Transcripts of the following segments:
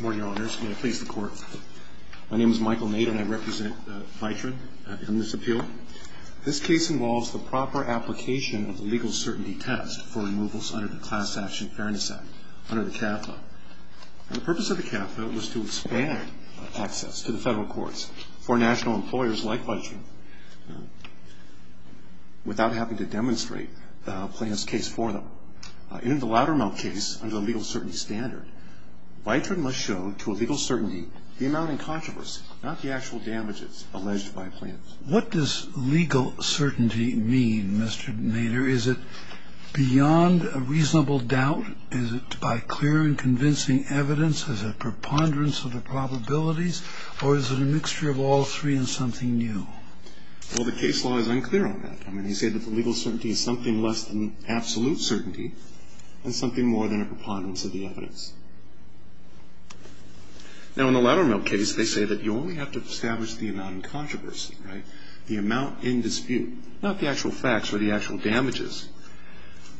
My name is Michael Nate and I represent Vitran in this appeal. This case involves the proper application of the legal certainty test for removals under the Class Action Fairness Act under the CAFLA. The purpose of the CAFLA was to expand access to the federal courts for national employers like Vitran without having to demonstrate a plaintiff's case for them. In the Loudermilk case, under the legal certainty standard, Vitran must show to a legal certainty the amount in controversy, not the actual damages alleged by a plaintiff. What does legal certainty mean, Mr. Nader? Is it beyond a reasonable doubt? Is it by clear and convincing evidence? Is it a preponderance of the probabilities? Or is it a mixture of all three and something new? Well, the case law is unclear on that. I mean, they say that the legal certainty is something less than absolute certainty and something more than a preponderance of the evidence. Now, in the Loudermilk case, they say that you only have to establish the amount in controversy, right? The amount in dispute, not the actual facts or the actual damages.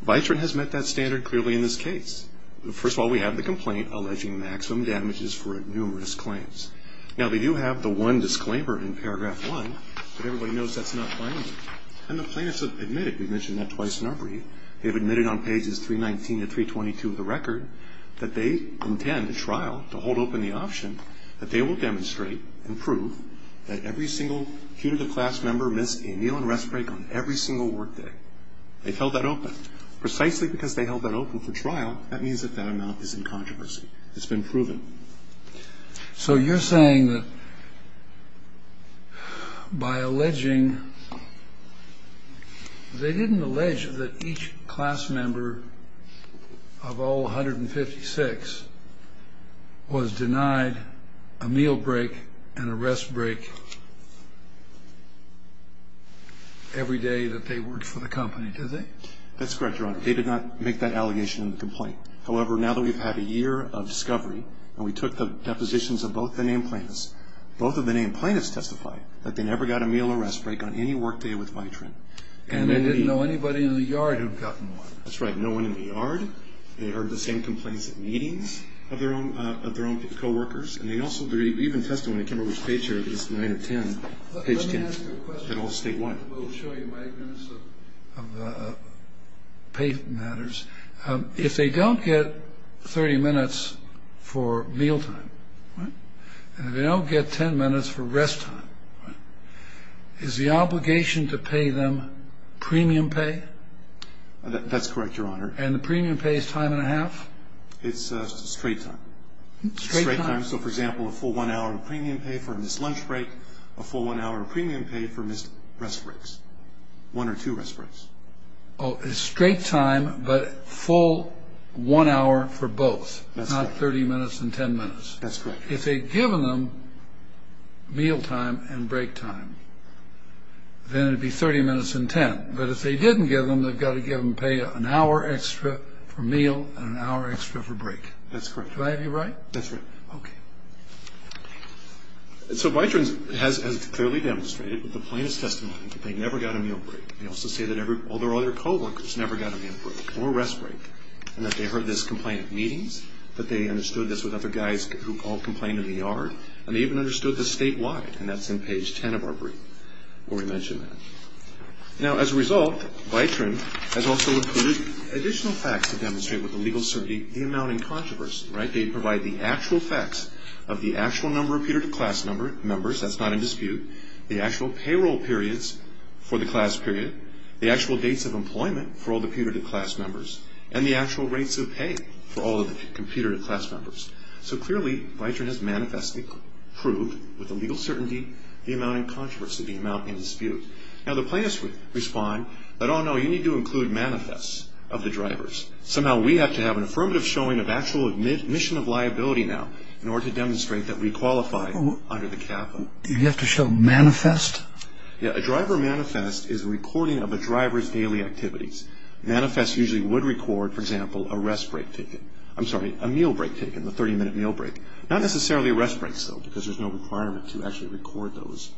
Vitran has met that standard clearly in this case. First of all, we have the complaint alleging maximum damages for numerous claims. Now, they do have the one disclaimer in paragraph one, but everybody knows that's not binding. And the plaintiffs have admitted, we've mentioned that twice in our brief, they've admitted on pages 319 to 322 of the record that they intend to trial, to hold open the option, that they will demonstrate and prove that every single Q to the class member missed a meal and rest break on every single work day. They've held that open. Precisely because they held that open for trial, that means that that amount is in controversy. It's been proven. So you're saying that by alleging, they didn't allege that each class member of all 156 was denied a meal break and a rest break every day that they worked for the company, do they? That's correct, Your Honor. They did not make that allegation in the complaint. However, now that we've had a year of discovery and we took the depositions of both the named plaintiffs, both of the named plaintiffs testified that they never got a meal or rest break on any work day with Vitran. And they didn't know anybody in the yard who'd gotten one. That's right. No one in the yard. They heard the same complaints at meetings of their own co-workers. And they also even testified when they came over to the page here, page 10. Let me ask you a question. We'll show you my agreements of pay matters. If they don't get 30 minutes for mealtime and they don't get 10 minutes for rest time, is the obligation to pay them premium pay? That's correct, Your Honor. And the premium pay is time and a half? It's straight time. Straight time. So, for example, a full one hour of premium pay for a missed lunch break, a full one hour of premium pay for missed rest breaks, one or two rest breaks. Oh, it's straight time, but full one hour for both. That's correct. Not 30 minutes and 10 minutes. That's correct. If they'd given them mealtime and break time, then it'd be 30 minutes and 10. But if they didn't give them, they've got to give them pay an hour extra for meal and an hour extra for break. That's correct. Do I have you right? That's right. Okay. So Bytron has clearly demonstrated with the plainest testimony that they never got a meal break. They also say that all their other co-workers never got a meal break or rest break, and that they heard this complaint at meetings, that they understood this with other guys who all complained in the yard, and they even understood this statewide, and that's in page 10 of our brief where we mention that. Now, as a result, Bytron has also included additional facts to demonstrate with the legal certainty the amount in controversy. They provide the actual facts of the actual number of peer-to-class members. That's not in dispute. The actual payroll periods for the class period, the actual dates of employment for all the peer-to-class members, and the actual rates of pay for all of the peer-to-class members. So clearly, Bytron has manifestly proved with the legal certainty the amount in controversy, the amount in dispute. Now, the plaintiffs would respond that, oh, no, you need to include manifests of the drivers. Somehow we have to have an affirmative showing of actual admission of liability now in order to demonstrate that we qualify under the capital. Do you have to show manifest? Yeah. A driver manifest is a recording of a driver's daily activities. Manifests usually would record, for example, a rest break taken. I'm sorry, a meal break taken, the 30-minute meal break. Not necessarily rest breaks, though, because there's no requirement to actually record those.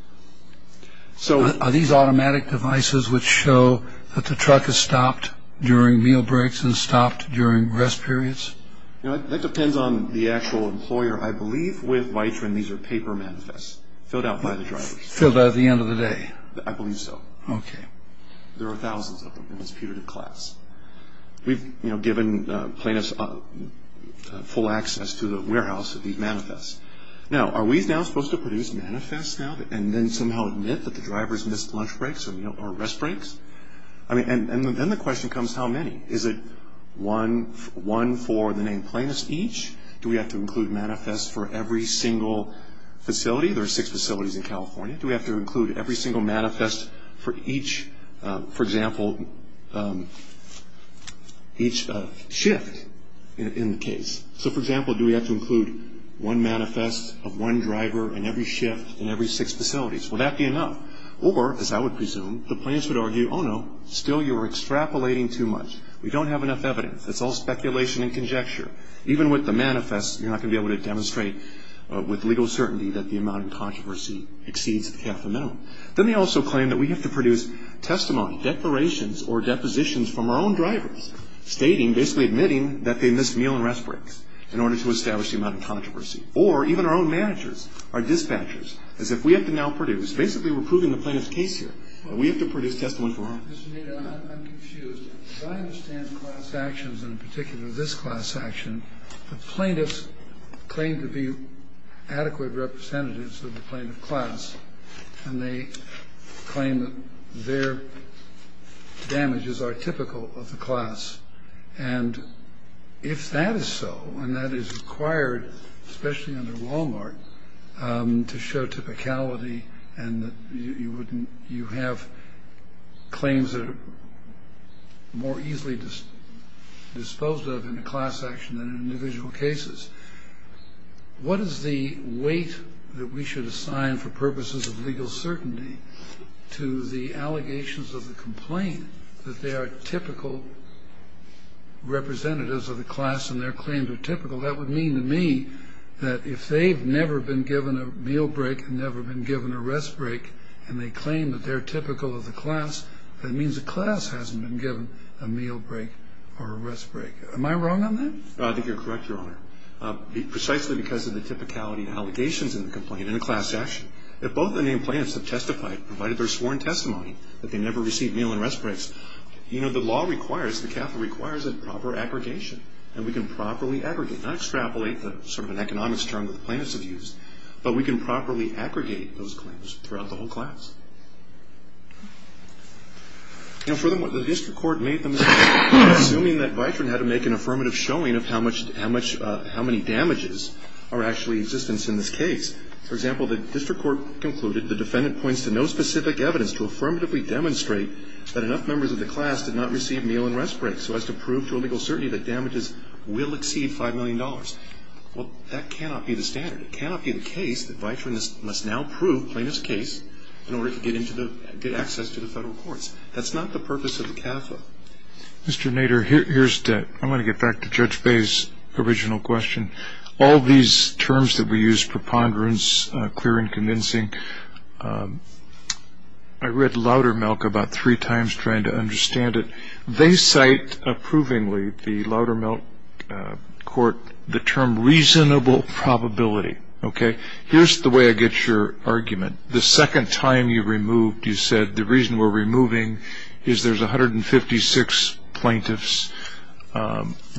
Are these automatic devices which show that the truck is stopped during meal breaks and stopped during rest periods? That depends on the actual employer. I believe with Bytron these are paper manifests filled out by the drivers. Filled out at the end of the day? I believe so. Okay. There are thousands of them in this putative class. We've given plaintiffs full access to the warehouse of these manifests. Now, are we now supposed to produce manifests now and then somehow admit that the drivers missed lunch breaks or rest breaks? And then the question comes, how many? Is it one for the named plaintiffs each? Do we have to include manifests for every single facility? There are six facilities in California. Do we have to include every single manifest for each, for example, each shift in the case? So, for example, do we have to include one manifest of one driver in every shift in every six facilities? Will that be enough? Or, as I would presume, the plaintiffs would argue, oh, no, still you're extrapolating too much. We don't have enough evidence. It's all speculation and conjecture. Even with the manifests, you're not going to be able to demonstrate with legal certainty that the amount of controversy exceeds half the minimum. Then they also claim that we have to produce testimony, declarations or depositions from our own drivers stating, basically admitting that they missed meal and rest breaks in order to establish the amount of controversy. Or even our own managers, our dispatchers, as if we have to now produce. Basically, we're proving the plaintiff's case here. We have to produce testimony from our own. Mr. Nader, I'm confused. As I understand class actions, and in particular this class action, the plaintiffs claim to be adequate representatives of the plaintiff class, and they claim that their damages are typical of the class. And if that is so, and that is required, especially under Walmart, to show typicality and that you have claims that are more easily disposed of in a class action than in individual cases, what is the weight that we should assign for purposes of legal certainty to the allegations of the complaint that they are typical representatives of the class and their claims are typical? That would mean to me that if they've never been given a meal break, never been given a rest break, and they claim that they're typical of the class, that means the class hasn't been given a meal break or a rest break. Am I wrong on that? I think you're correct, Your Honor. Precisely because of the typicality and allegations in the complaint in a class action, if both the named plaintiffs have testified, provided their sworn testimony, that they never received meal and rest breaks, you know, the law requires, the Catholic requires a proper aggregation, and we can properly aggregate, not extrapolate the sort of an economics term that the plaintiffs have used, but we can properly aggregate those claims throughout the whole class. You know, for them, what the district court made them, assuming that Vitrin had to make an affirmative showing of how much, how many damages are actually in existence in this case. For example, the district court concluded, the defendant points to no specific evidence to affirmatively demonstrate that enough members of the class did not receive meal and rest breaks, so as to prove to a legal certainty that damages will exceed $5 million. Well, that cannot be the standard. It cannot be the case that Vitrin must now prove plaintiff's case in order to get access to the federal courts. That's not the purpose of the CAFA. Mr. Nader, here's to, I'm going to get back to Judge Bay's original question. All these terms that we use, preponderance, clear and convincing, I read Loudermilk about three times trying to understand it. They cite approvingly, the Loudermilk court, the term reasonable probability. Okay? Here's the way I get your argument. The second time you removed, you said, the reason we're removing is there's 156 plaintiffs.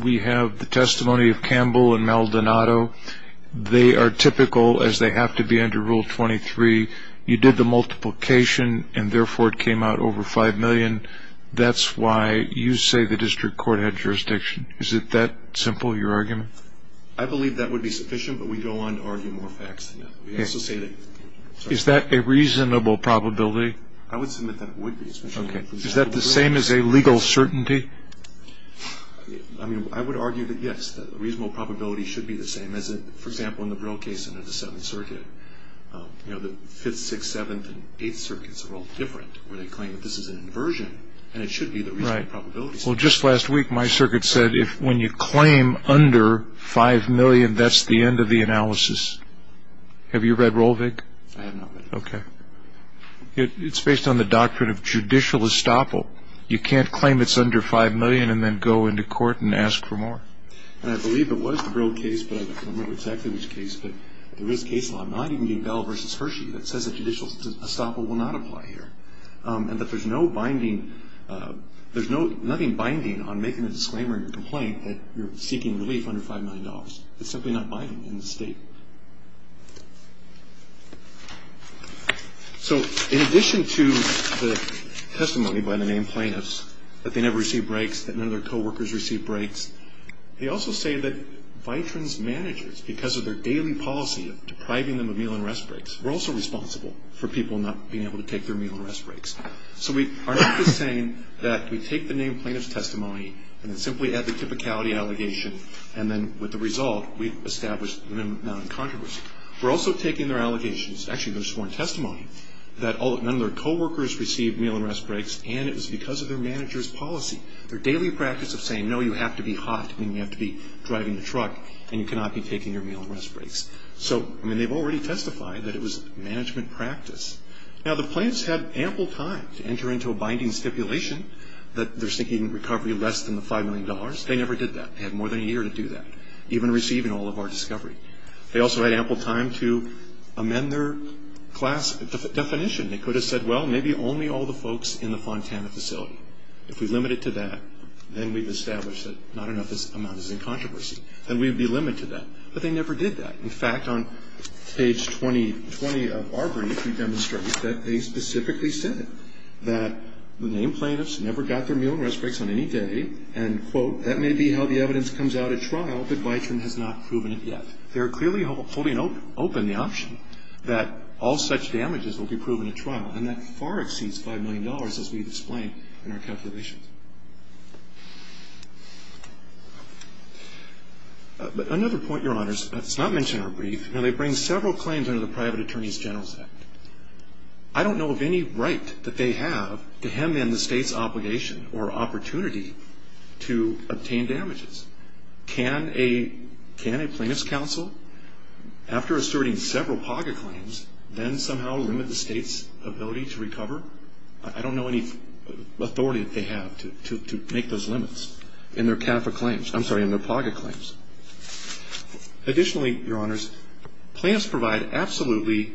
We have the testimony of Campbell and Maldonado. They are typical, as they have to be under Rule 23. You did the multiplication, and therefore, it came out over $5 million. That's why you say the district court had jurisdiction. Is it that simple, your argument? I believe that would be sufficient, but we go on to argue more facts than that. We also say that, sorry. Is that a reasonable probability? I would submit that it would be. Okay. Is that the same as a legal certainty? I mean, I would argue that, yes. The reasonable probability should be the same. For example, in the Brill case under the Seventh Circuit, the Fifth, Sixth, Seventh, and Eighth Circuits are all different, where they claim that this is an inversion, and it should be the reasonable probability. Well, just last week, my circuit said, if when you claim under $5 million, that's the end of the analysis. Have you read Rohlvig? I have not read it. Okay. It's based on the doctrine of judicial estoppel. You can't claim it's under $5 million and then go into court and ask for more. And I believe it was the Brill case, but I don't remember exactly which case, but there is case law, not even Bell v. Hershey, that says that judicial estoppel will not apply here, and that there's nothing binding on making a disclaimer in your complaint that you're seeking relief under $5 million. It's simply not binding in the state. So in addition to the testimony by the named plaintiffs, that they never received breaks, that none of their coworkers received breaks, they also say that Vitrans managers, because of their daily policy of depriving them of meal and rest breaks, were also responsible for people not being able to take their meal and rest breaks. So we are not just saying that we take the named plaintiffs' testimony and then simply add the typicality allegation, and then with the result we've established them non-controversial. We're also taking their allegations, actually their sworn testimony, that none of their coworkers received meal and rest breaks, and it was because of their manager's policy, their daily practice of saying, no, you have to be hot, and you have to be driving a truck, and you cannot be taking your meal and rest breaks. So, I mean, they've already testified that it was management practice. Now, the plaintiffs had ample time to enter into a binding stipulation that they're seeking recovery less than the $5 million. They never did that. They had more than a year to do that, even receiving all of our discovery. They also had ample time to amend their class definition. They could have said, well, maybe only all the folks in the Fontana facility. If we limit it to that, then we've established that not enough amount is in controversy. Then we'd be limited to that, but they never did that. In fact, on page 20 of our brief, we demonstrate that they specifically said that the named plaintiffs never got their meal and rest breaks on any day, and, quote, that may be how the evidence comes out at trial, but Bytron has not proven it yet. They're clearly holding open the option that all such damages will be proven at trial, and that far exceeds $5 million, as we've explained in our calculations. But another point, Your Honors, that's not mentioned in our brief. Now, they bring several claims under the Private Attorneys General Act. I don't know of any right that they have to hand in the state's obligation or opportunity to obtain damages. Can a plaintiff's counsel, after asserting several POGA claims, then somehow limit the state's ability to recover? I don't know any authority that they have to make those limits in their POGA claims. Additionally, Your Honors, plaintiffs provide absolutely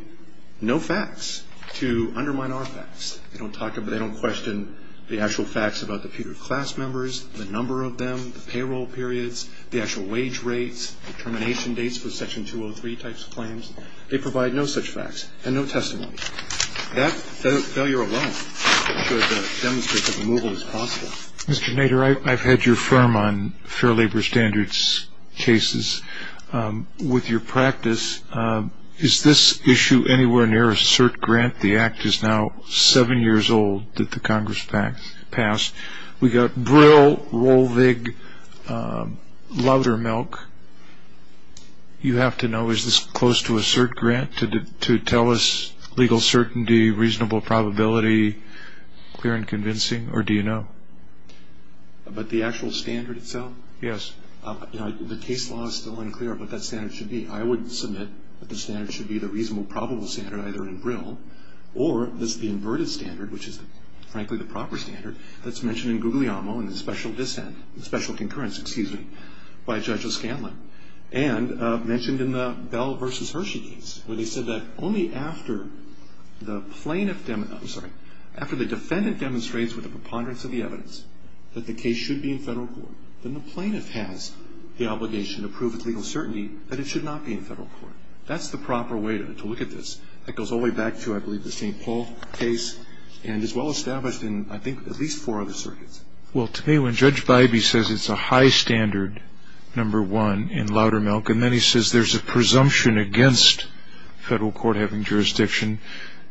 no facts to undermine our facts. They don't talk about or question the actual facts about the POGA class members, the number of them, the payroll periods, the actual wage rates, the termination dates for Section 203 types of claims. They provide no such facts and no testimony. That failure alone should demonstrate that removal is possible. Mr. Nader, I've had your firm on Fair Labor Standards cases. With your practice, is this issue anywhere near a cert grant? The Act is now seven years old that the Congress passed. We've got Brill, Rohlvig, Laudermilk. You have to know, is this close to a cert grant to tell us legal certainty, reasonable probability, clear and convincing, or do you know? But the actual standard itself? Yes. The case law is still unclear of what that standard should be. I would submit that the standard should be the reasonable probable standard either in Brill or the inverted standard, which is frankly the proper standard that's mentioned in Guglielmo in the special concurrence by Judge O'Scanlan and mentioned in the Bell v. Hershey case where they said that only after the defendant demonstrates with a preponderance of the evidence that the case should be in federal court, then the plaintiff has the obligation to prove with legal certainty that it should not be in federal court. That's the proper way to look at this. That goes all the way back to, I believe, the St. Paul case and is well established in, I think, at least four other circuits. Well, to me, when Judge Bybee says it's a high standard, number one, in Laudermilk, and then he says there's a presumption against federal court having jurisdiction,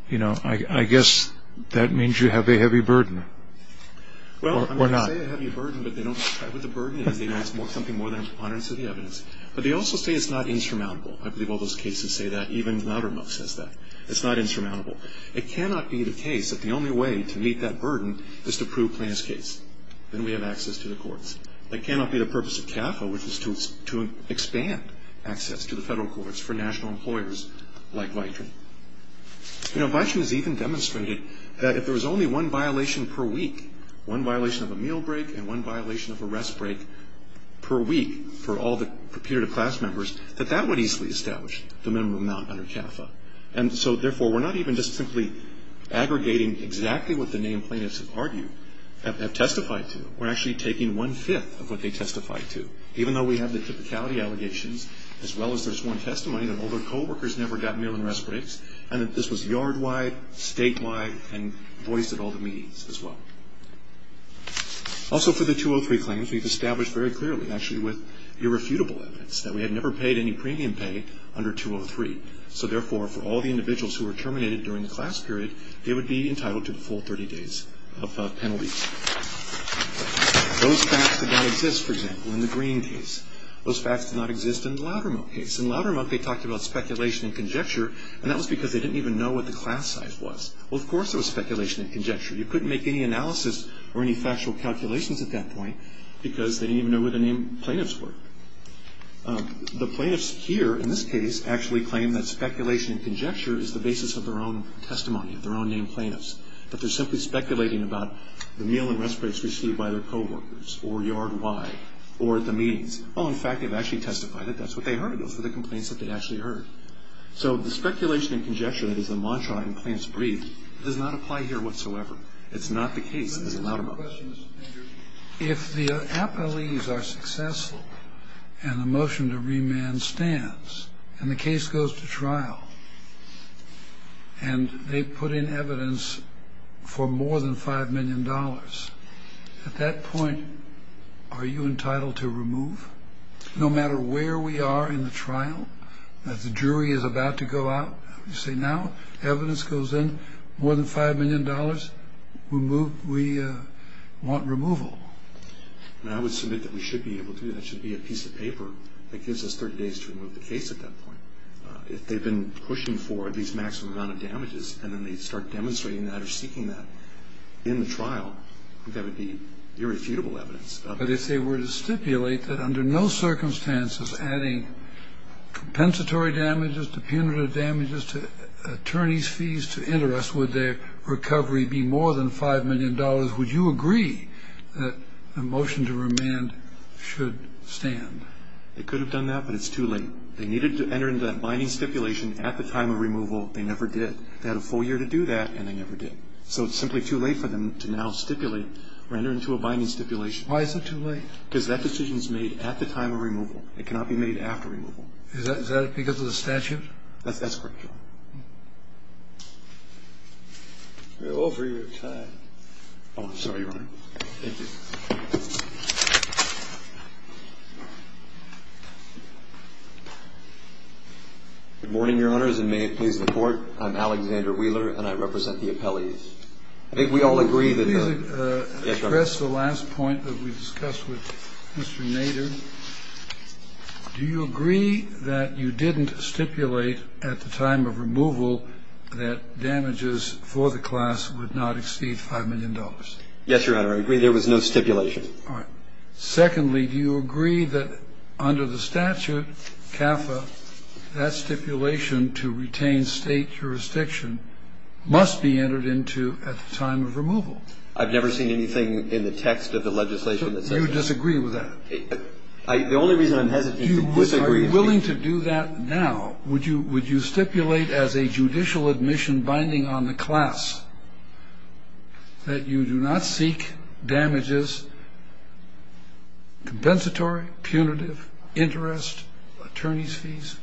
you know, I guess that means you have a heavy burden or not. Well, I'm going to say a heavy burden, but they don't describe what the burden is. They know it's something more than a preponderance of the evidence. But they also say it's not insurmountable. I believe all those cases say that. Even Laudermilk says that. It's not insurmountable. It cannot be the case that the only way to meet that burden is to prove plaintiff's case. Then we have access to the courts. That cannot be the purpose of CAFA, which is to expand access to the federal courts for national employers like VITRE. You know, VITRE has even demonstrated that if there was only one violation per week, one violation of a meal break and one violation of a rest break per week for all the purported class members, that that would easily establish the minimum amount under CAFA. And so, therefore, we're not even just simply aggregating exactly what the named plaintiffs have argued, have testified to. We're actually taking one-fifth of what they testified to. Even though we have the typicality allegations, as well as there's one testimony that all their co-workers never got meal and rest breaks, and that this was yard-wide, state-wide, and voiced at all the meetings as well. Also, for the 203 claims, we've established very clearly, actually, with irrefutable evidence that we had never paid any premium pay under 203. So, therefore, for all the individuals who were terminated during the class period, they would be entitled to a full 30 days of penalties. Those facts did not exist, for example, in the Green case. Those facts did not exist in the Loudermilk case. In Loudermilk, they talked about speculation and conjecture, and that was because they didn't even know what the class size was. Well, of course there was speculation and conjecture. You couldn't make any analysis or any factual calculations at that point because they didn't even know where the named plaintiffs were. The plaintiffs here, in this case, actually claim that speculation and conjecture is the basis of their own testimony, of their own named plaintiffs, that they're simply speculating about the meal and rest breaks received by their coworkers or yard-wide or at the meetings. Oh, in fact, they've actually testified that that's what they heard. Those were the complaints that they actually heard. So the speculation and conjecture that is the mantra in Plaintiff's Brief does not apply here whatsoever. It's not the case as in Loudermilk. My question is, if the appellees are successful and the motion to remand stands and the case goes to trial and they put in evidence for more than $5 million, at that point are you entitled to remove? No matter where we are in the trial, if the jury is about to go out, you say now evidence goes in, more than $5 million, we want removal. I would submit that we should be able to. That should be a piece of paper that gives us 30 days to remove the case at that point. If they've been pushing for these maximum amount of damages and then they start demonstrating that or seeking that in the trial, I think that would be irrefutable evidence. But if they were to stipulate that under no circumstances adding compensatory damages to punitive damages to attorney's fees to interest, would their recovery be more than $5 million? Would you agree that the motion to remand should stand? They could have done that, but it's too late. They needed to enter into that binding stipulation at the time of removal. They never did. They had a full year to do that, and they never did. So it's simply too late for them to now stipulate or enter into a binding stipulation. Why is it too late? Because that decision is made at the time of removal. It cannot be made after removal. Is that because of the statute? That's correct, Your Honor. We're over your time. Oh, I'm sorry, Your Honor. Thank you. Good morning, Your Honors, and may it please the Court. I'm Alexander Wheeler, and I represent the appellees. I think we all agree that the ---- Could you please address the last point that we discussed with Mr. Nader? Mr. Nader, do you agree that you didn't stipulate at the time of removal that damages for the class would not exceed $5 million? Yes, Your Honor. I agree there was no stipulation. All right. Secondly, do you agree that under the statute, CAFA, that stipulation to retain State jurisdiction must be entered into at the time of removal? I've never seen anything in the text of the legislation that says that. Do you disagree with that? The only reason I'm hesitant to disagree is because ---- Are you willing to do that now? Would you stipulate as a judicial admission binding on the class that you do not seek damages compensatory, punitive, interest, attorney's fees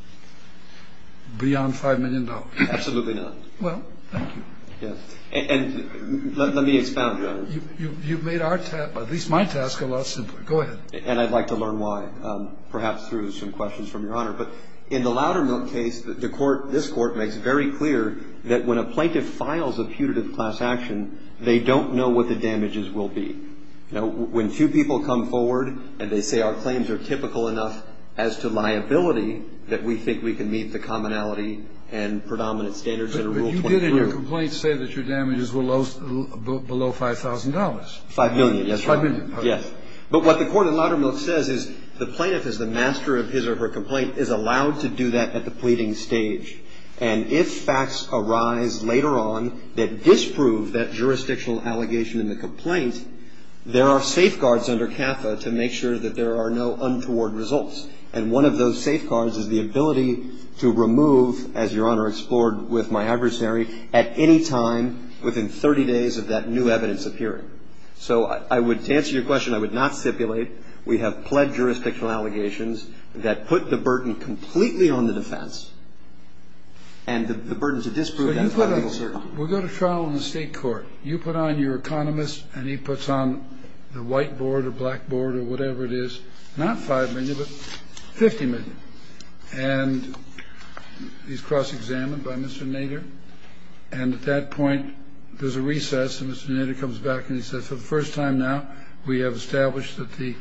beyond $5 million? Absolutely not. Well, thank you. Yes. And let me expound, Your Honor. You've made our task, at least my task, a lot simpler. Go ahead. And I'd like to learn why, perhaps through some questions from Your Honor. But in the Loudermilk case, the Court, this Court makes very clear that when a plaintiff files a putative class action, they don't know what the damages will be. You know, when two people come forward and they say our claims are typical enough as to liability that we think we can meet the commonality and predominant standards under Rule 23. Well, you did in your complaint say that your damages were below $5,000. $5 million, yes, Your Honor. $5 million. Yes. But what the court in Loudermilk says is the plaintiff is the master of his or her complaint, is allowed to do that at the pleading stage. And if facts arise later on that disprove that jurisdictional allegation in the complaint, there are safeguards under CAFA to make sure that there are no untoward results. And one of those safeguards is the ability to remove, as Your Honor explored with my adversary, at any time within 30 days of that new evidence appearing. So I would, to answer your question, I would not stipulate. We have pled jurisdictional allegations that put the burden completely on the defense and the burden to disprove that $5 million. We'll go to trial in the State Court. You put on your economist and he puts on the white board or black board or whatever it is, not $5 million, but $50 million. And he's cross-examined by Mr. Nader. And at that point, there's a recess, and Mr. Nader comes back and he says, for the first time now, we have established with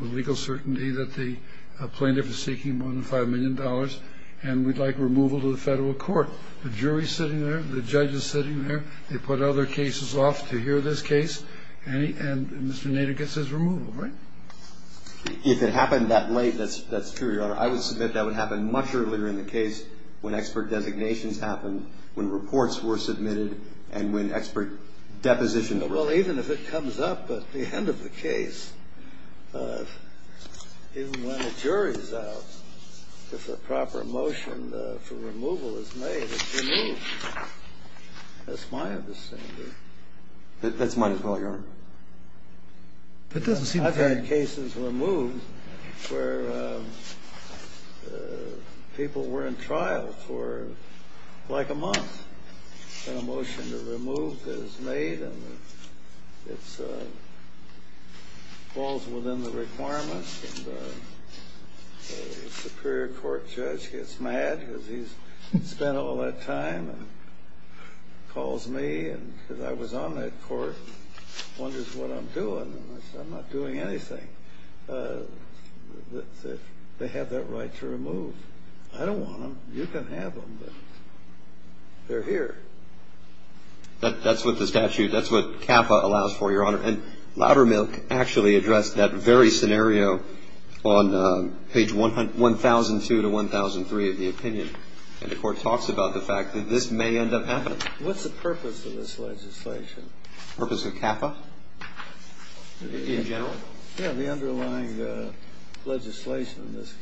legal certainty that the plaintiff is seeking more than $5 million, and we'd like removal to the federal court. The jury's sitting there. The judge is sitting there. They put other cases off to hear this case. And Mr. Nader gets his removal, right? If it happened that late, that's true, Your Honor. I would submit that would happen much earlier in the case when expert designations happened, when reports were submitted, and when expert depositions were made. Well, even if it comes up at the end of the case, even when a jury's out, if a proper motion for removal is made, it's removed. That's my understanding. That's mine as well, Your Honor. I've had cases removed where people were in trial for like a month. And a motion to remove is made, and it falls within the requirements. And the superior court judge gets mad because he's spent all that time and calls me. And because I was on that court, wonders what I'm doing, and I said, I'm not doing anything. They have that right to remove. I don't want them. You can have them, but they're here. That's what the statute, that's what CAFA allows for, Your Honor. And Loudermilk actually addressed that very scenario on page 1002 to 1003 of the opinion. And the court talks about the fact that this may end up happening. What's the purpose of this legislation? Purpose of CAFA? In general? Yeah, the underlying legislation in this case.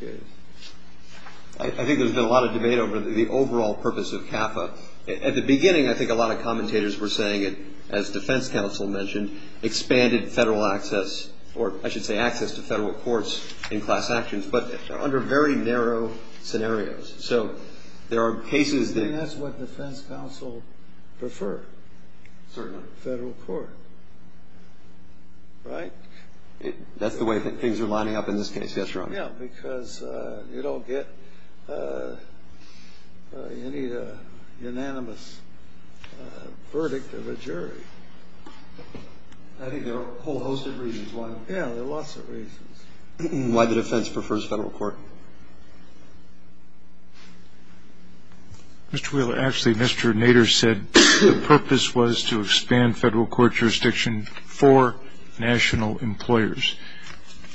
I think there's been a lot of debate over the overall purpose of CAFA. At the beginning, I think a lot of commentators were saying it, as defense counsel mentioned, expanded federal access, or I should say access to federal courts in class actions, but under very narrow scenarios. So there are cases that I think that's what defense counsel prefer. Certainly. Federal court. Right? That's the way things are lining up in this case, yes, Your Honor. Yeah, because you don't get any unanimous verdict of a jury. I think there are a whole host of reasons why. Yeah, there are lots of reasons. Why the defense prefers federal court. Mr. Wheeler, actually, Mr. Nader said the purpose was to expand federal court jurisdiction for national employers.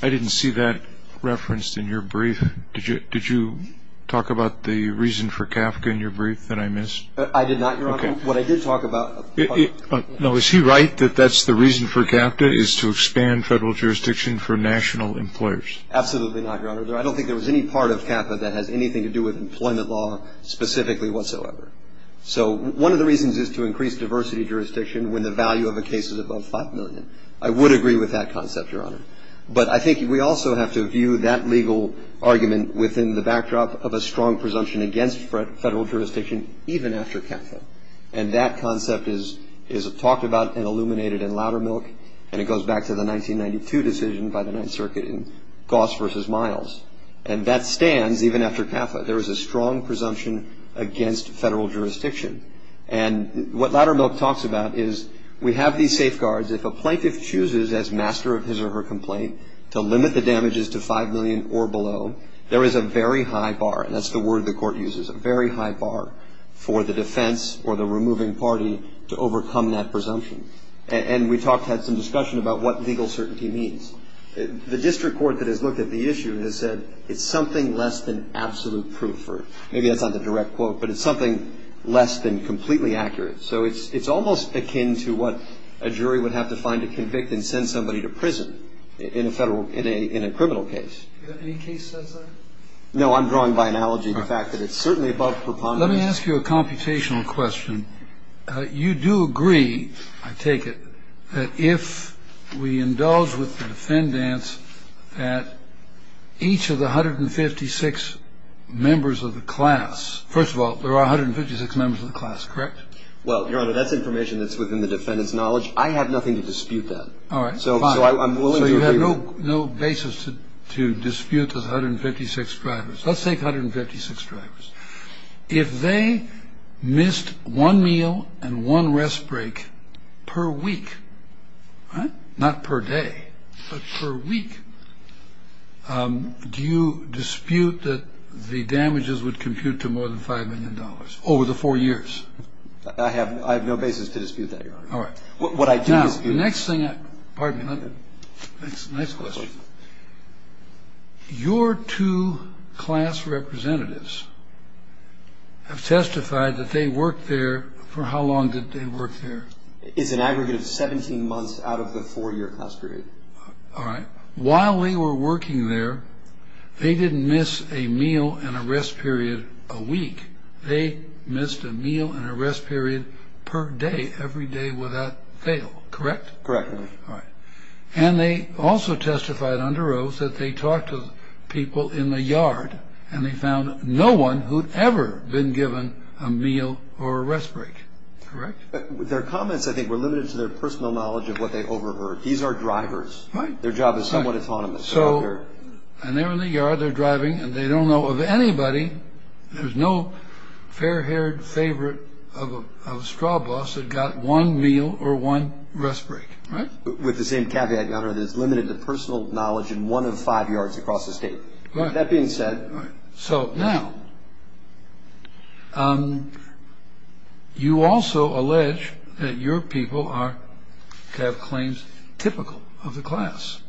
I didn't see that referenced in your brief. Did you talk about the reason for CAFCA in your brief that I missed? I did not, Your Honor. Okay. What I did talk about. No, is he right that that's the reason for CAFCA, is to expand federal jurisdiction for national employers? Absolutely not, Your Honor. I don't think there was any part of CAFCA that has anything to do with employment law specifically whatsoever. So one of the reasons is to increase diversity of jurisdiction when the value of a case is above $5 million. I would agree with that concept, Your Honor. But I think we also have to view that legal argument within the backdrop of a strong presumption against federal jurisdiction even after CAFCA. And that concept is talked about and illuminated in Loudermilk, and it goes back to the 1992 decision by the Ninth Circuit in Goss versus Miles. And that stands even after CAFCA. There is a strong presumption against federal jurisdiction. And what Loudermilk talks about is we have these safeguards. If a plaintiff chooses as master of his or her complaint to limit the damages to $5 million or below, there is a very high bar, and that's the word the court uses, a very high bar for the defense or the removing party to overcome that presumption. And we talked, had some discussion about what legal certainty means. The district court that has looked at the issue has said it's something less than absolute proof, or maybe that's not the direct quote, but it's something less than completely accurate. So it's almost akin to what a jury would have to find to convict and send somebody to prison in a criminal case. Any case says that? No, I'm drawing by analogy the fact that it's certainly above preponderance. Let me ask you a computational question. You do agree, I take it, that if we indulge with the defendants that each of the 156 members of the class – first of all, there are 156 members of the class, correct? Well, Your Honor, that's information that's within the defendant's knowledge. I have nothing to dispute that. All right. So I'm willing to agree with that. So you have no basis to dispute those 156 drivers. Let's take 156 drivers. If they missed one meal and one rest break per week, not per day, but per week, do you dispute that the damages would compute to more than $5 million over the four years? I have no basis to dispute that, Your Honor. All right. Now, the next thing – pardon me. Next question. Your two class representatives have testified that they worked there – for how long did they work there? It's an aggregate of 17 months out of the four-year class period. All right. While they were working there, they didn't miss a meal and a rest period a week. They missed a meal and a rest period per day, every day without fail, correct? Correct. All right. And they also testified under oath that they talked to people in the yard and they found no one who'd ever been given a meal or a rest break, correct? Their comments, I think, were limited to their personal knowledge of what they overheard. These are drivers. Right. Their job is somewhat autonomous. So – and they're in the yard, they're driving, and they don't know of anybody – there's no fair-haired favorite of a straw boss that got one meal or one rest break, right? With the same caveat, Your Honor, that it's limited to personal knowledge in one of five yards across the state. That being said – All right. So now, you also allege that your people have claims typical of the class.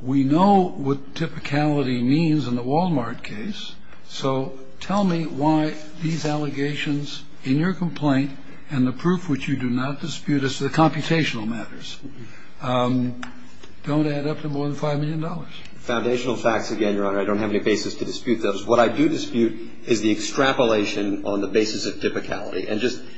We know what typicality means in the Walmart case, so tell me why these allegations in your complaint and the proof which you do not dispute as to the computational matters don't add up to more than $5 million. Foundational facts again, Your Honor. I don't have any basis to dispute those. What I do dispute is the extrapolation on the basis of typicality. And just –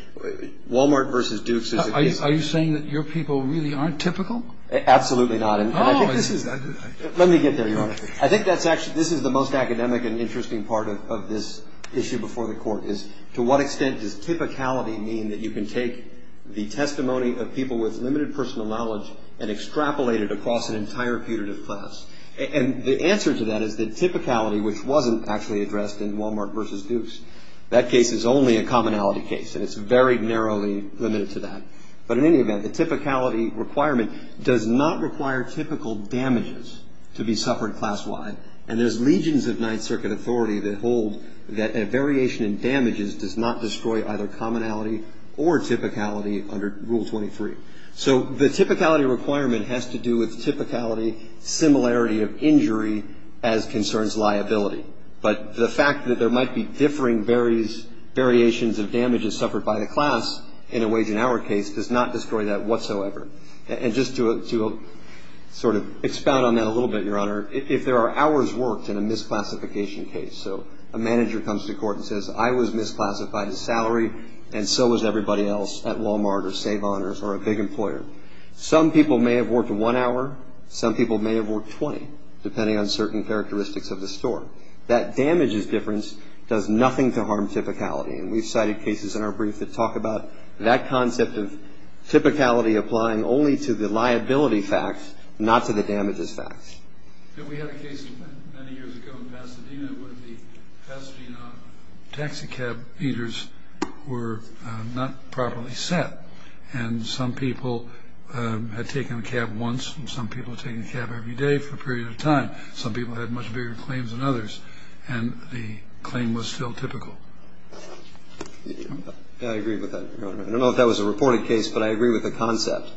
Walmart versus Dukes is a case – Are you saying that your people really aren't typical? Absolutely not. And I think this is – let me get there, Your Honor. I think that's actually – this is the most academic and interesting part of this issue before the Court, is to what extent does typicality mean that you can take the testimony of people with limited personal knowledge and extrapolate it across an entire putative class? And the answer to that is that typicality, which wasn't actually addressed in Walmart versus Dukes, that case is only a commonality case, and it's very narrowly limited to that. But in any event, the typicality requirement does not require typical damages to be suffered class-wide, and there's legions of Ninth Circuit authority that hold that a variation in damages does not destroy either commonality or typicality under Rule 23. So the typicality requirement has to do with typicality, similarity of injury as concerns liability. But the fact that there might be differing variations of damages suffered by the class in a wage and hour case does not destroy that whatsoever. And just to sort of expound on that a little bit, Your Honor, if there are hours worked in a misclassification case, so a manager comes to court and says, I was misclassified as salary, and so was everybody else at Walmart or Save Honors or a big employer. Some people may have worked one hour. Some people may have worked 20, depending on certain characteristics of the store. That damages difference does nothing to harm typicality, and we've cited cases in our brief that talk about that concept of typicality applying only to the liability facts, not to the damages facts. We had a case many years ago in Pasadena where the Pasadena taxi cab eaters were not properly set, and some people had taken a cab once and some people had taken a cab every day for a period of time. Some people had much bigger claims than others, and the claim was still typical. I agree with that. I don't know if that was a reported case, but I agree with the concept.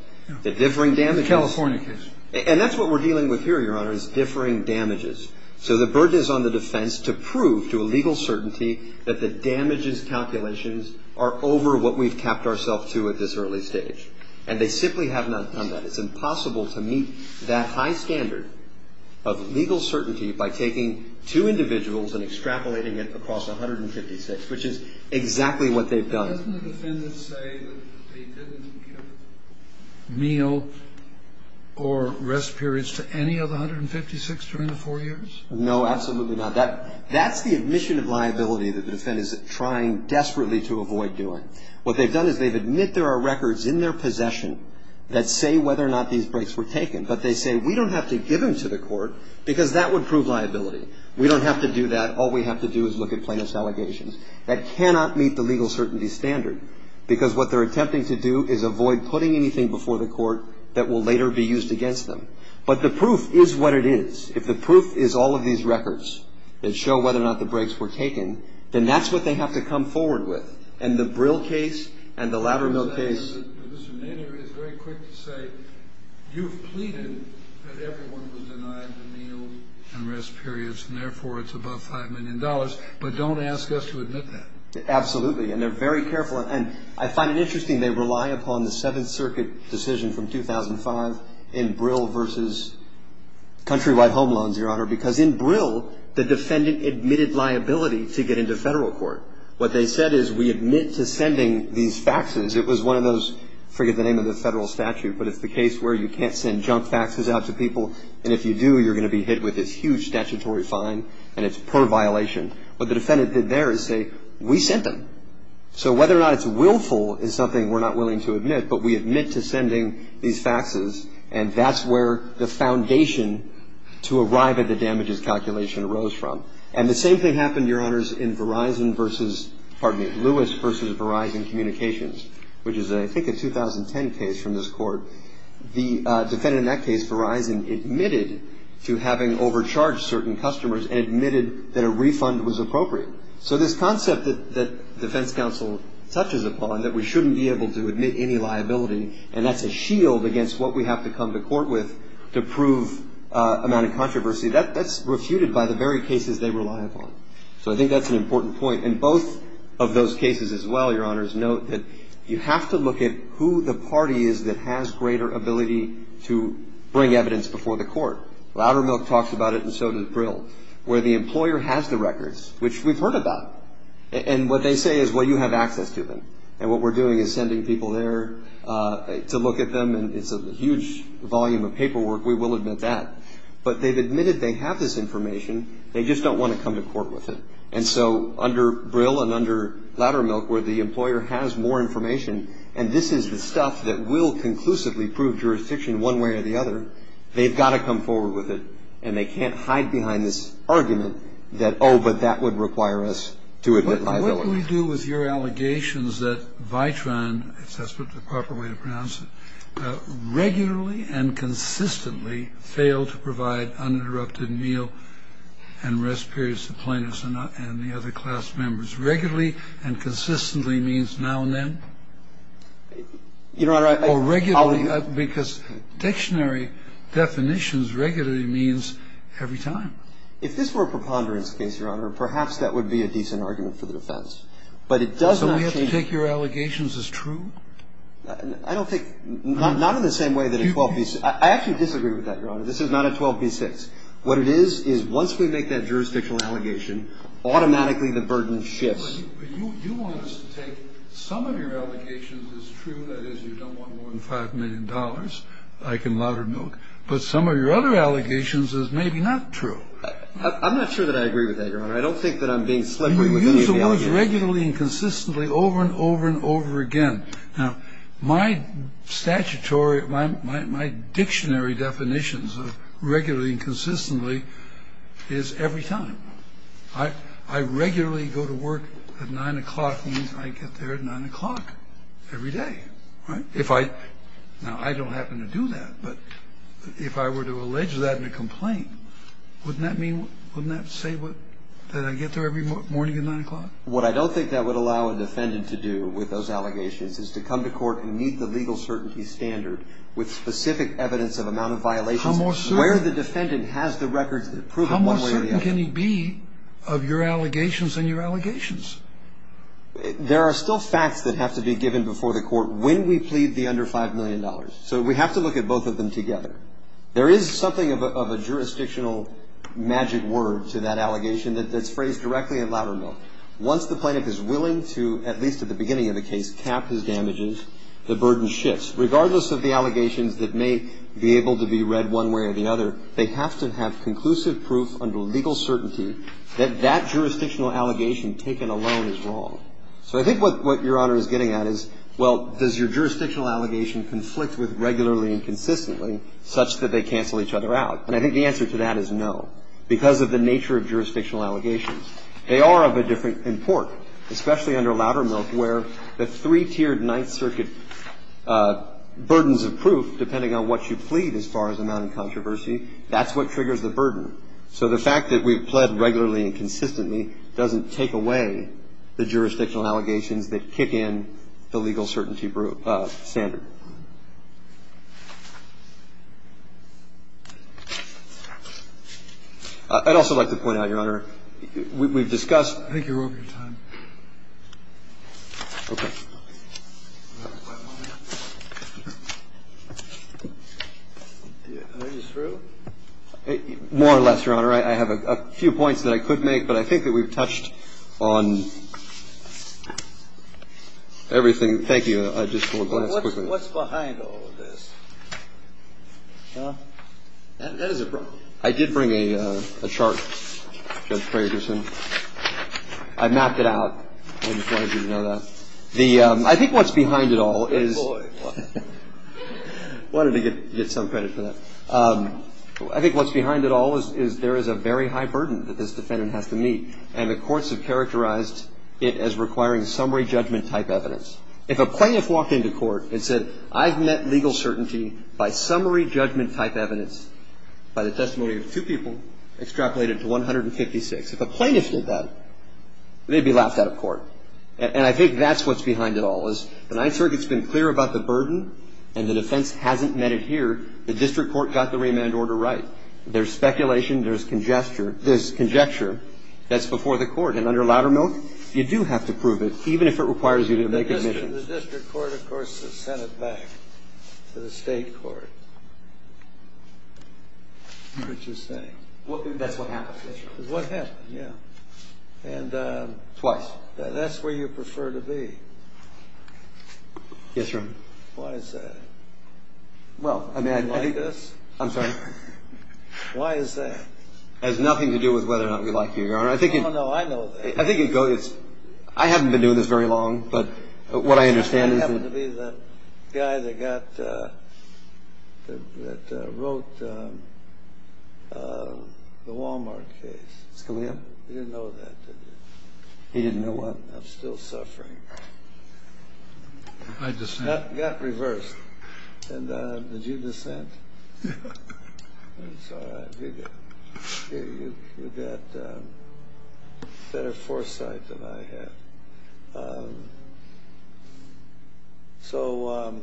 The differing damages. California case. And that's what we're dealing with here, Your Honor, is differing damages. So the burden is on the defense to prove to a legal certainty that the damages calculations are over what we've capped ourselves to at this early stage, and they simply have not done that. It's impossible to meet that high standard of legal certainty by taking two individuals and extrapolating it across 156, which is exactly what they've done. Doesn't the defendant say that they didn't give meal or rest periods to any of the 156 during the four years? No, absolutely not. That's the admission of liability that the defendant is trying desperately to avoid doing. What they've done is they've admitted there are records in their possession that say whether or not these breaks were taken, but they say we don't have to give them to the court because that would prove liability. We don't have to do that. All we have to do is look at plaintiff's allegations. That cannot meet the legal certainty standard, because what they're attempting to do is avoid putting anything before the court that will later be used against them. But the proof is what it is. If the proof is all of these records that show whether or not the breaks were taken, then that's what they have to come forward with. And the Brill case and the Latimer case. You've pleaded that everyone was denied the meal and rest periods, and therefore it's above $5 million. But don't ask us to admit that. Absolutely. And they're very careful. And I find it interesting they rely upon the Seventh Circuit decision from 2005 in Brill versus countrywide home loans, Your Honor, because in Brill the defendant admitted liability to get into federal court. What they said is we admit to sending these faxes. It was one of those, I forget the name of the federal statute, but it's the case where you can't send junk faxes out to people, and if you do you're going to be hit with this huge statutory fine, and it's per violation. What the defendant did there is say we sent them. So whether or not it's willful is something we're not willing to admit, but we admit to sending these faxes, and that's where the foundation to arrive at the damages calculation arose from. And the same thing happened, Your Honors, in Verizon versus, pardon me, Lewis versus Verizon Communications, which is I think a 2010 case from this court. The defendant in that case, Verizon, admitted to having overcharged certain customers and admitted that a refund was appropriate. So this concept that defense counsel touches upon, that we shouldn't be able to admit any liability, and that's a shield against what we have to come to court with to prove amount of controversy, that's refuted by the very cases they rely upon. So I think that's an important point. And both of those cases as well, Your Honors, note that you have to look at who the party is that has greater ability to bring evidence before the court. Loudermilk talks about it and so does Brill, where the employer has the records, which we've heard about. And what they say is, well, you have access to them. And what we're doing is sending people there to look at them, and it's a huge volume of paperwork. We will admit that. But they've admitted they have this information. They just don't want to come to court with it. And so under Brill and under Loudermilk, where the employer has more information, and this is the stuff that will conclusively prove jurisdiction one way or the other, they've got to come forward with it. And they can't hide behind this argument that, oh, but that would require us to admit liability. What do we do with your allegations that Vitron, if that's the proper way to pronounce it, regularly and consistently failed to provide uninterrupted meal and rest periods to plaintiffs and the other class members? Regularly and consistently means now and then? Your Honor, I... Or regularly, because dictionary definitions regularly means every time. If this were a preponderance case, Your Honor, perhaps that would be a decent argument for the defense. But it does not change... So we have to take your allegations as true? I don't think... Not in the same way that a 12b6... I actually disagree with that, Your Honor. This is not a 12b6. What it is is once we make that jurisdictional allegation, automatically the burden shifts. But you want us to take some of your allegations as true, that is you don't want more than $5 million, like in Loudermilk, but some of your other allegations as maybe not true. I'm not sure that I agree with that, Your Honor. I don't think that I'm being slippery with any of the allegations. You use the words regularly and consistently over and over and over again. Now, my statutory, my dictionary definitions of regularly and consistently is every time. I regularly go to work at 9 o'clock means I get there at 9 o'clock every day. Now, I don't happen to do that, but if I were to allege that in a complaint, wouldn't that say that I get there every morning at 9 o'clock? What I don't think that would allow a defendant to do with those allegations is to come to court and meet the legal certainty standard with specific evidence of amount of violations. How more certain can he be of your allegations and your allegations? There are still facts that have to be given before the court when we plead the under $5 million. So we have to look at both of them together. There is something of a jurisdictional magic word to that allegation that's phrased directly in Loudermilk. Once the plaintiff is willing to, at least at the beginning of the case, cap his damages, the burden shifts. Regardless of the allegations that may be able to be read one way or the other, they have to have conclusive proof under legal certainty that that jurisdictional allegation taken alone is wrong. So I think what Your Honor is getting at is, well, does your jurisdictional allegation conflict with regularly and consistently such that they cancel each other out? And I think the answer to that is no, because of the nature of jurisdictional allegations. They are of a different import, especially under Loudermilk, where the three-tiered Ninth Circuit burdens of proof, depending on what you plead as far as amount of controversy, that's what triggers the burden. So the fact that we've pled regularly and consistently doesn't take away the jurisdictional allegations that kick in the legal certainty standard. I'd also like to point out, Your Honor, we've discussed. I think you're over your time. Okay. Are you through? More or less, Your Honor. I have a few points that I could make, but I think that we've touched on everything. Thank you. I just want to go ahead quickly. What's behind all of this? That is a problem. I did bring a chart, Judge Fragerson. I mapped it out. I just wanted you to know that. I think what's behind it all is ñ Good boy. I wanted to get some credit for that. I think what's behind it all is there is a very high burden that this defendant has to meet, and the courts have characterized it as requiring summary judgment-type evidence. If a plaintiff walked into court and said, I've met legal certainty by summary judgment-type evidence, by the testimony of two people extrapolated to 156, if a plaintiff did that, they'd be laughed out of court. And I think that's what's behind it all is the Ninth Circuit's been clear about the burden, and the defense hasn't met it here. The district court got the remand order right. There's speculation. There's conjecture. There's conjecture. That's before the court. And under Loudermilk, you do have to prove it, even if it requires you to make admissions. The district court, of course, has sent it back to the state court. That's what happened. Twice. That's where you prefer to be. Yes, Your Honor. Why is that? Well, I mean, I think you're right. I'm sorry? Why is that? It has nothing to do with whether or not we like you, Your Honor. Oh, no, I know that. I haven't been doing this very long, but what I understand is that- Scalia? You didn't know that, did you? He didn't know what? I'm still suffering. I dissent. That got reversed. And did you dissent? It's all right. You got better foresight than I have. So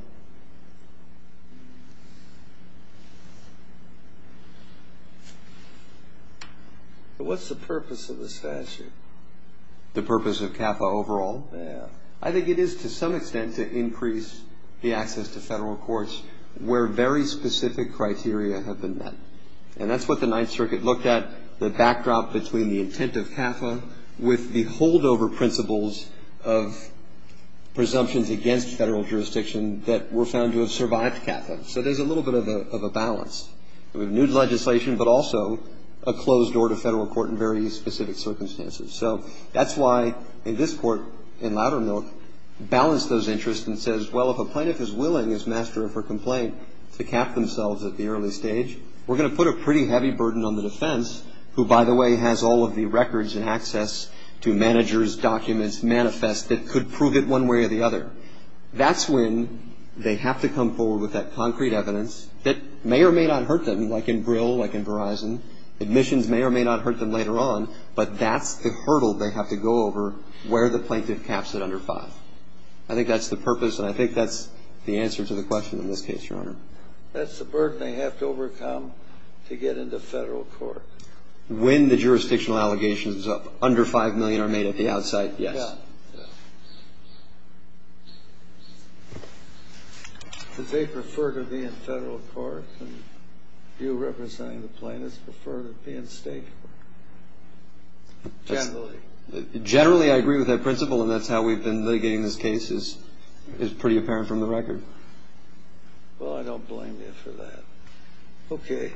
what's the purpose of the statute? The purpose of CAFA overall? Yes. I think it is to some extent to increase the access to federal courts where very specific criteria have been met. And that's what the Ninth Circuit looked at, the backdrop between the intent of CAFA with the holdover principle of presumptions against federal jurisdiction that were found to have survived CAFA. So there's a little bit of a balance. We have new legislation, but also a closed door to federal court in very specific circumstances. So that's why this Court in Loudermilk balanced those interests and says, well, if a plaintiff is willing as master of her complaint to cap themselves at the early stage, we're going to put a pretty heavy burden on the defense, who, by the way, has all of the records and access to managers, documents, manifest that could prove it one way or the other. That's when they have to come forward with that concrete evidence that may or may not hurt them, like in Brill, like in Verizon. Admissions may or may not hurt them later on, but that's the hurdle they have to go over where the plaintiff caps at under 5. I think that's the purpose, and I think that's the answer to the question in this case, Your Honor. That's the burden they have to overcome to get into federal court. When the jurisdictional allegations of under $5 million are made at the outside, yes. Yeah. Do they prefer to be in federal court and you representing the plaintiffs prefer to be in state court, generally? Generally, I agree with that principle, and that's how we've been litigating this case is pretty apparent from the record. Well, I don't blame you for that. Okay.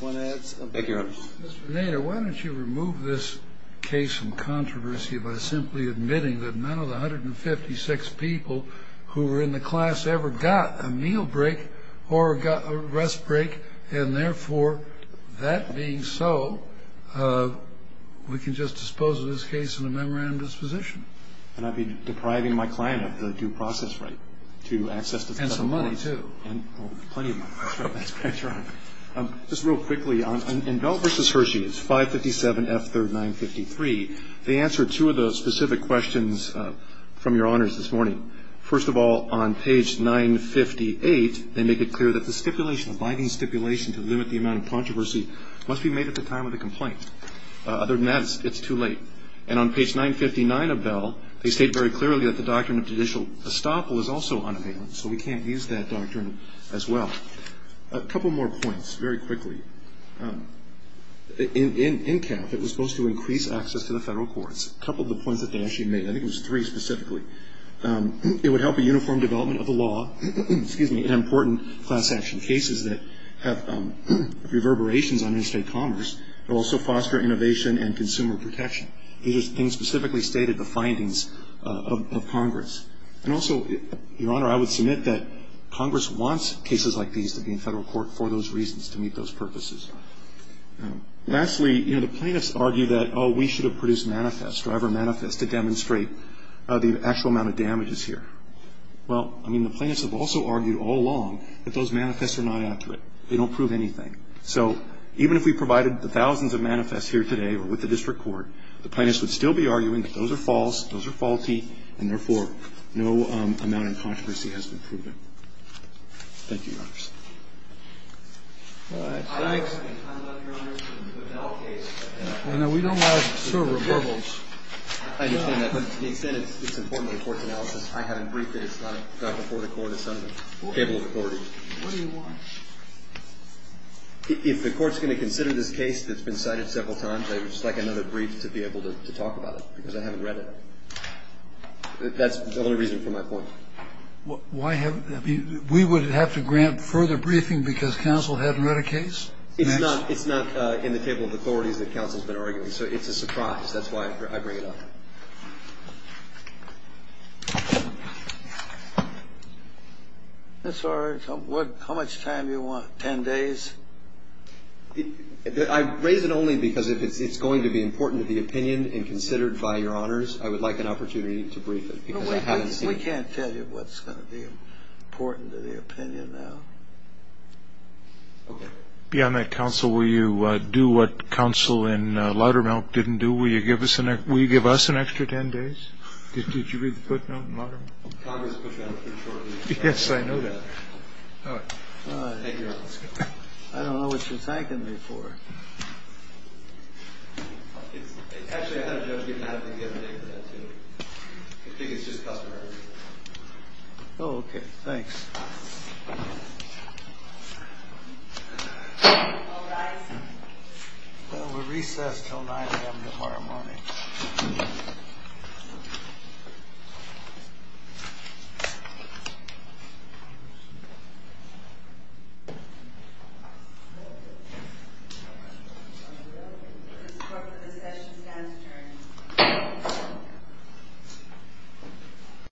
Thank you, Your Honor. Mr. Nader, why don't you remove this case from controversy by simply admitting that none of the 156 people who were in the class ever got a meal break or got a rest break, and therefore, that being so, we can just dispose of this case in a memorandum disposition. And I'd be depriving my client of the due process right to access to federal money. And some money, too. And plenty of money. That's right. That's right. Just real quickly, in Bell v. Hershey, it's 557 F3rd 953, they answer two of the specific questions from Your Honors this morning. First of all, on page 958, they make it clear that the stipulation, the binding stipulation to limit the amount of controversy, must be made at the time of the complaint. Other than that, it's too late. And on page 959 of Bell, they state very clearly that the doctrine of judicial estoppel is also unavailable, so we can't use that doctrine as well. A couple more points, very quickly. In CAF, it was supposed to increase access to the federal courts. A couple of the points that they actually made. I think it was three specifically. It would help a uniform development of the law in important class action cases that have reverberations on interstate commerce. It will also foster innovation and consumer protection. These are things specifically stated in the findings of Congress. And also, Your Honor, I would submit that Congress wants cases like these to be in federal court for those reasons, to meet those purposes. Lastly, you know, the plaintiffs argue that, oh, we should have produced manifests, driver manifests, to demonstrate the actual amount of damages here. Well, I mean, the plaintiffs have also argued all along that those manifests are not accurate. They don't prove anything. So even if we provided the thousands of manifests here today or with the district court, the plaintiffs would still be arguing that those are false, those are faulty, and therefore no amount of controversy has been proven. Thank you, Your Honors. All right. Thanks. No, we don't have a server. I understand that. But to the extent it's important to the court's analysis, I haven't briefed it. It's not before the court. It's under the table of authority. What do you want? If the court's going to consider this case that's been cited several times, I would just like another brief to be able to talk about it because I haven't read it. That's the only reason for my point. We would have to grant further briefing because counsel hadn't read a case? It's not in the table of authorities that counsel's been arguing. So it's a surprise. That's why I bring it up. That's all right. How much time do you want? Ten days? I raise it only because if it's going to be important to the opinion and considered by Your Honors, I would like an opportunity to brief it because I haven't seen it. We can't tell you what's going to be important to the opinion now. Beyond that, counsel, will you do what counsel in Laudermilk didn't do? Will you give us an extra ten days? Did you read the footnote in Laudermilk? Congress put that up pretty shortly. Yes, I know that. All right. Thank you, Your Honors. I don't know what you're thanking me for. Actually, I had a judge get mad at me the other day for that, too. I think it's just customary. Oh, okay. Thanks. We'll recess until 9 a.m. tomorrow morning.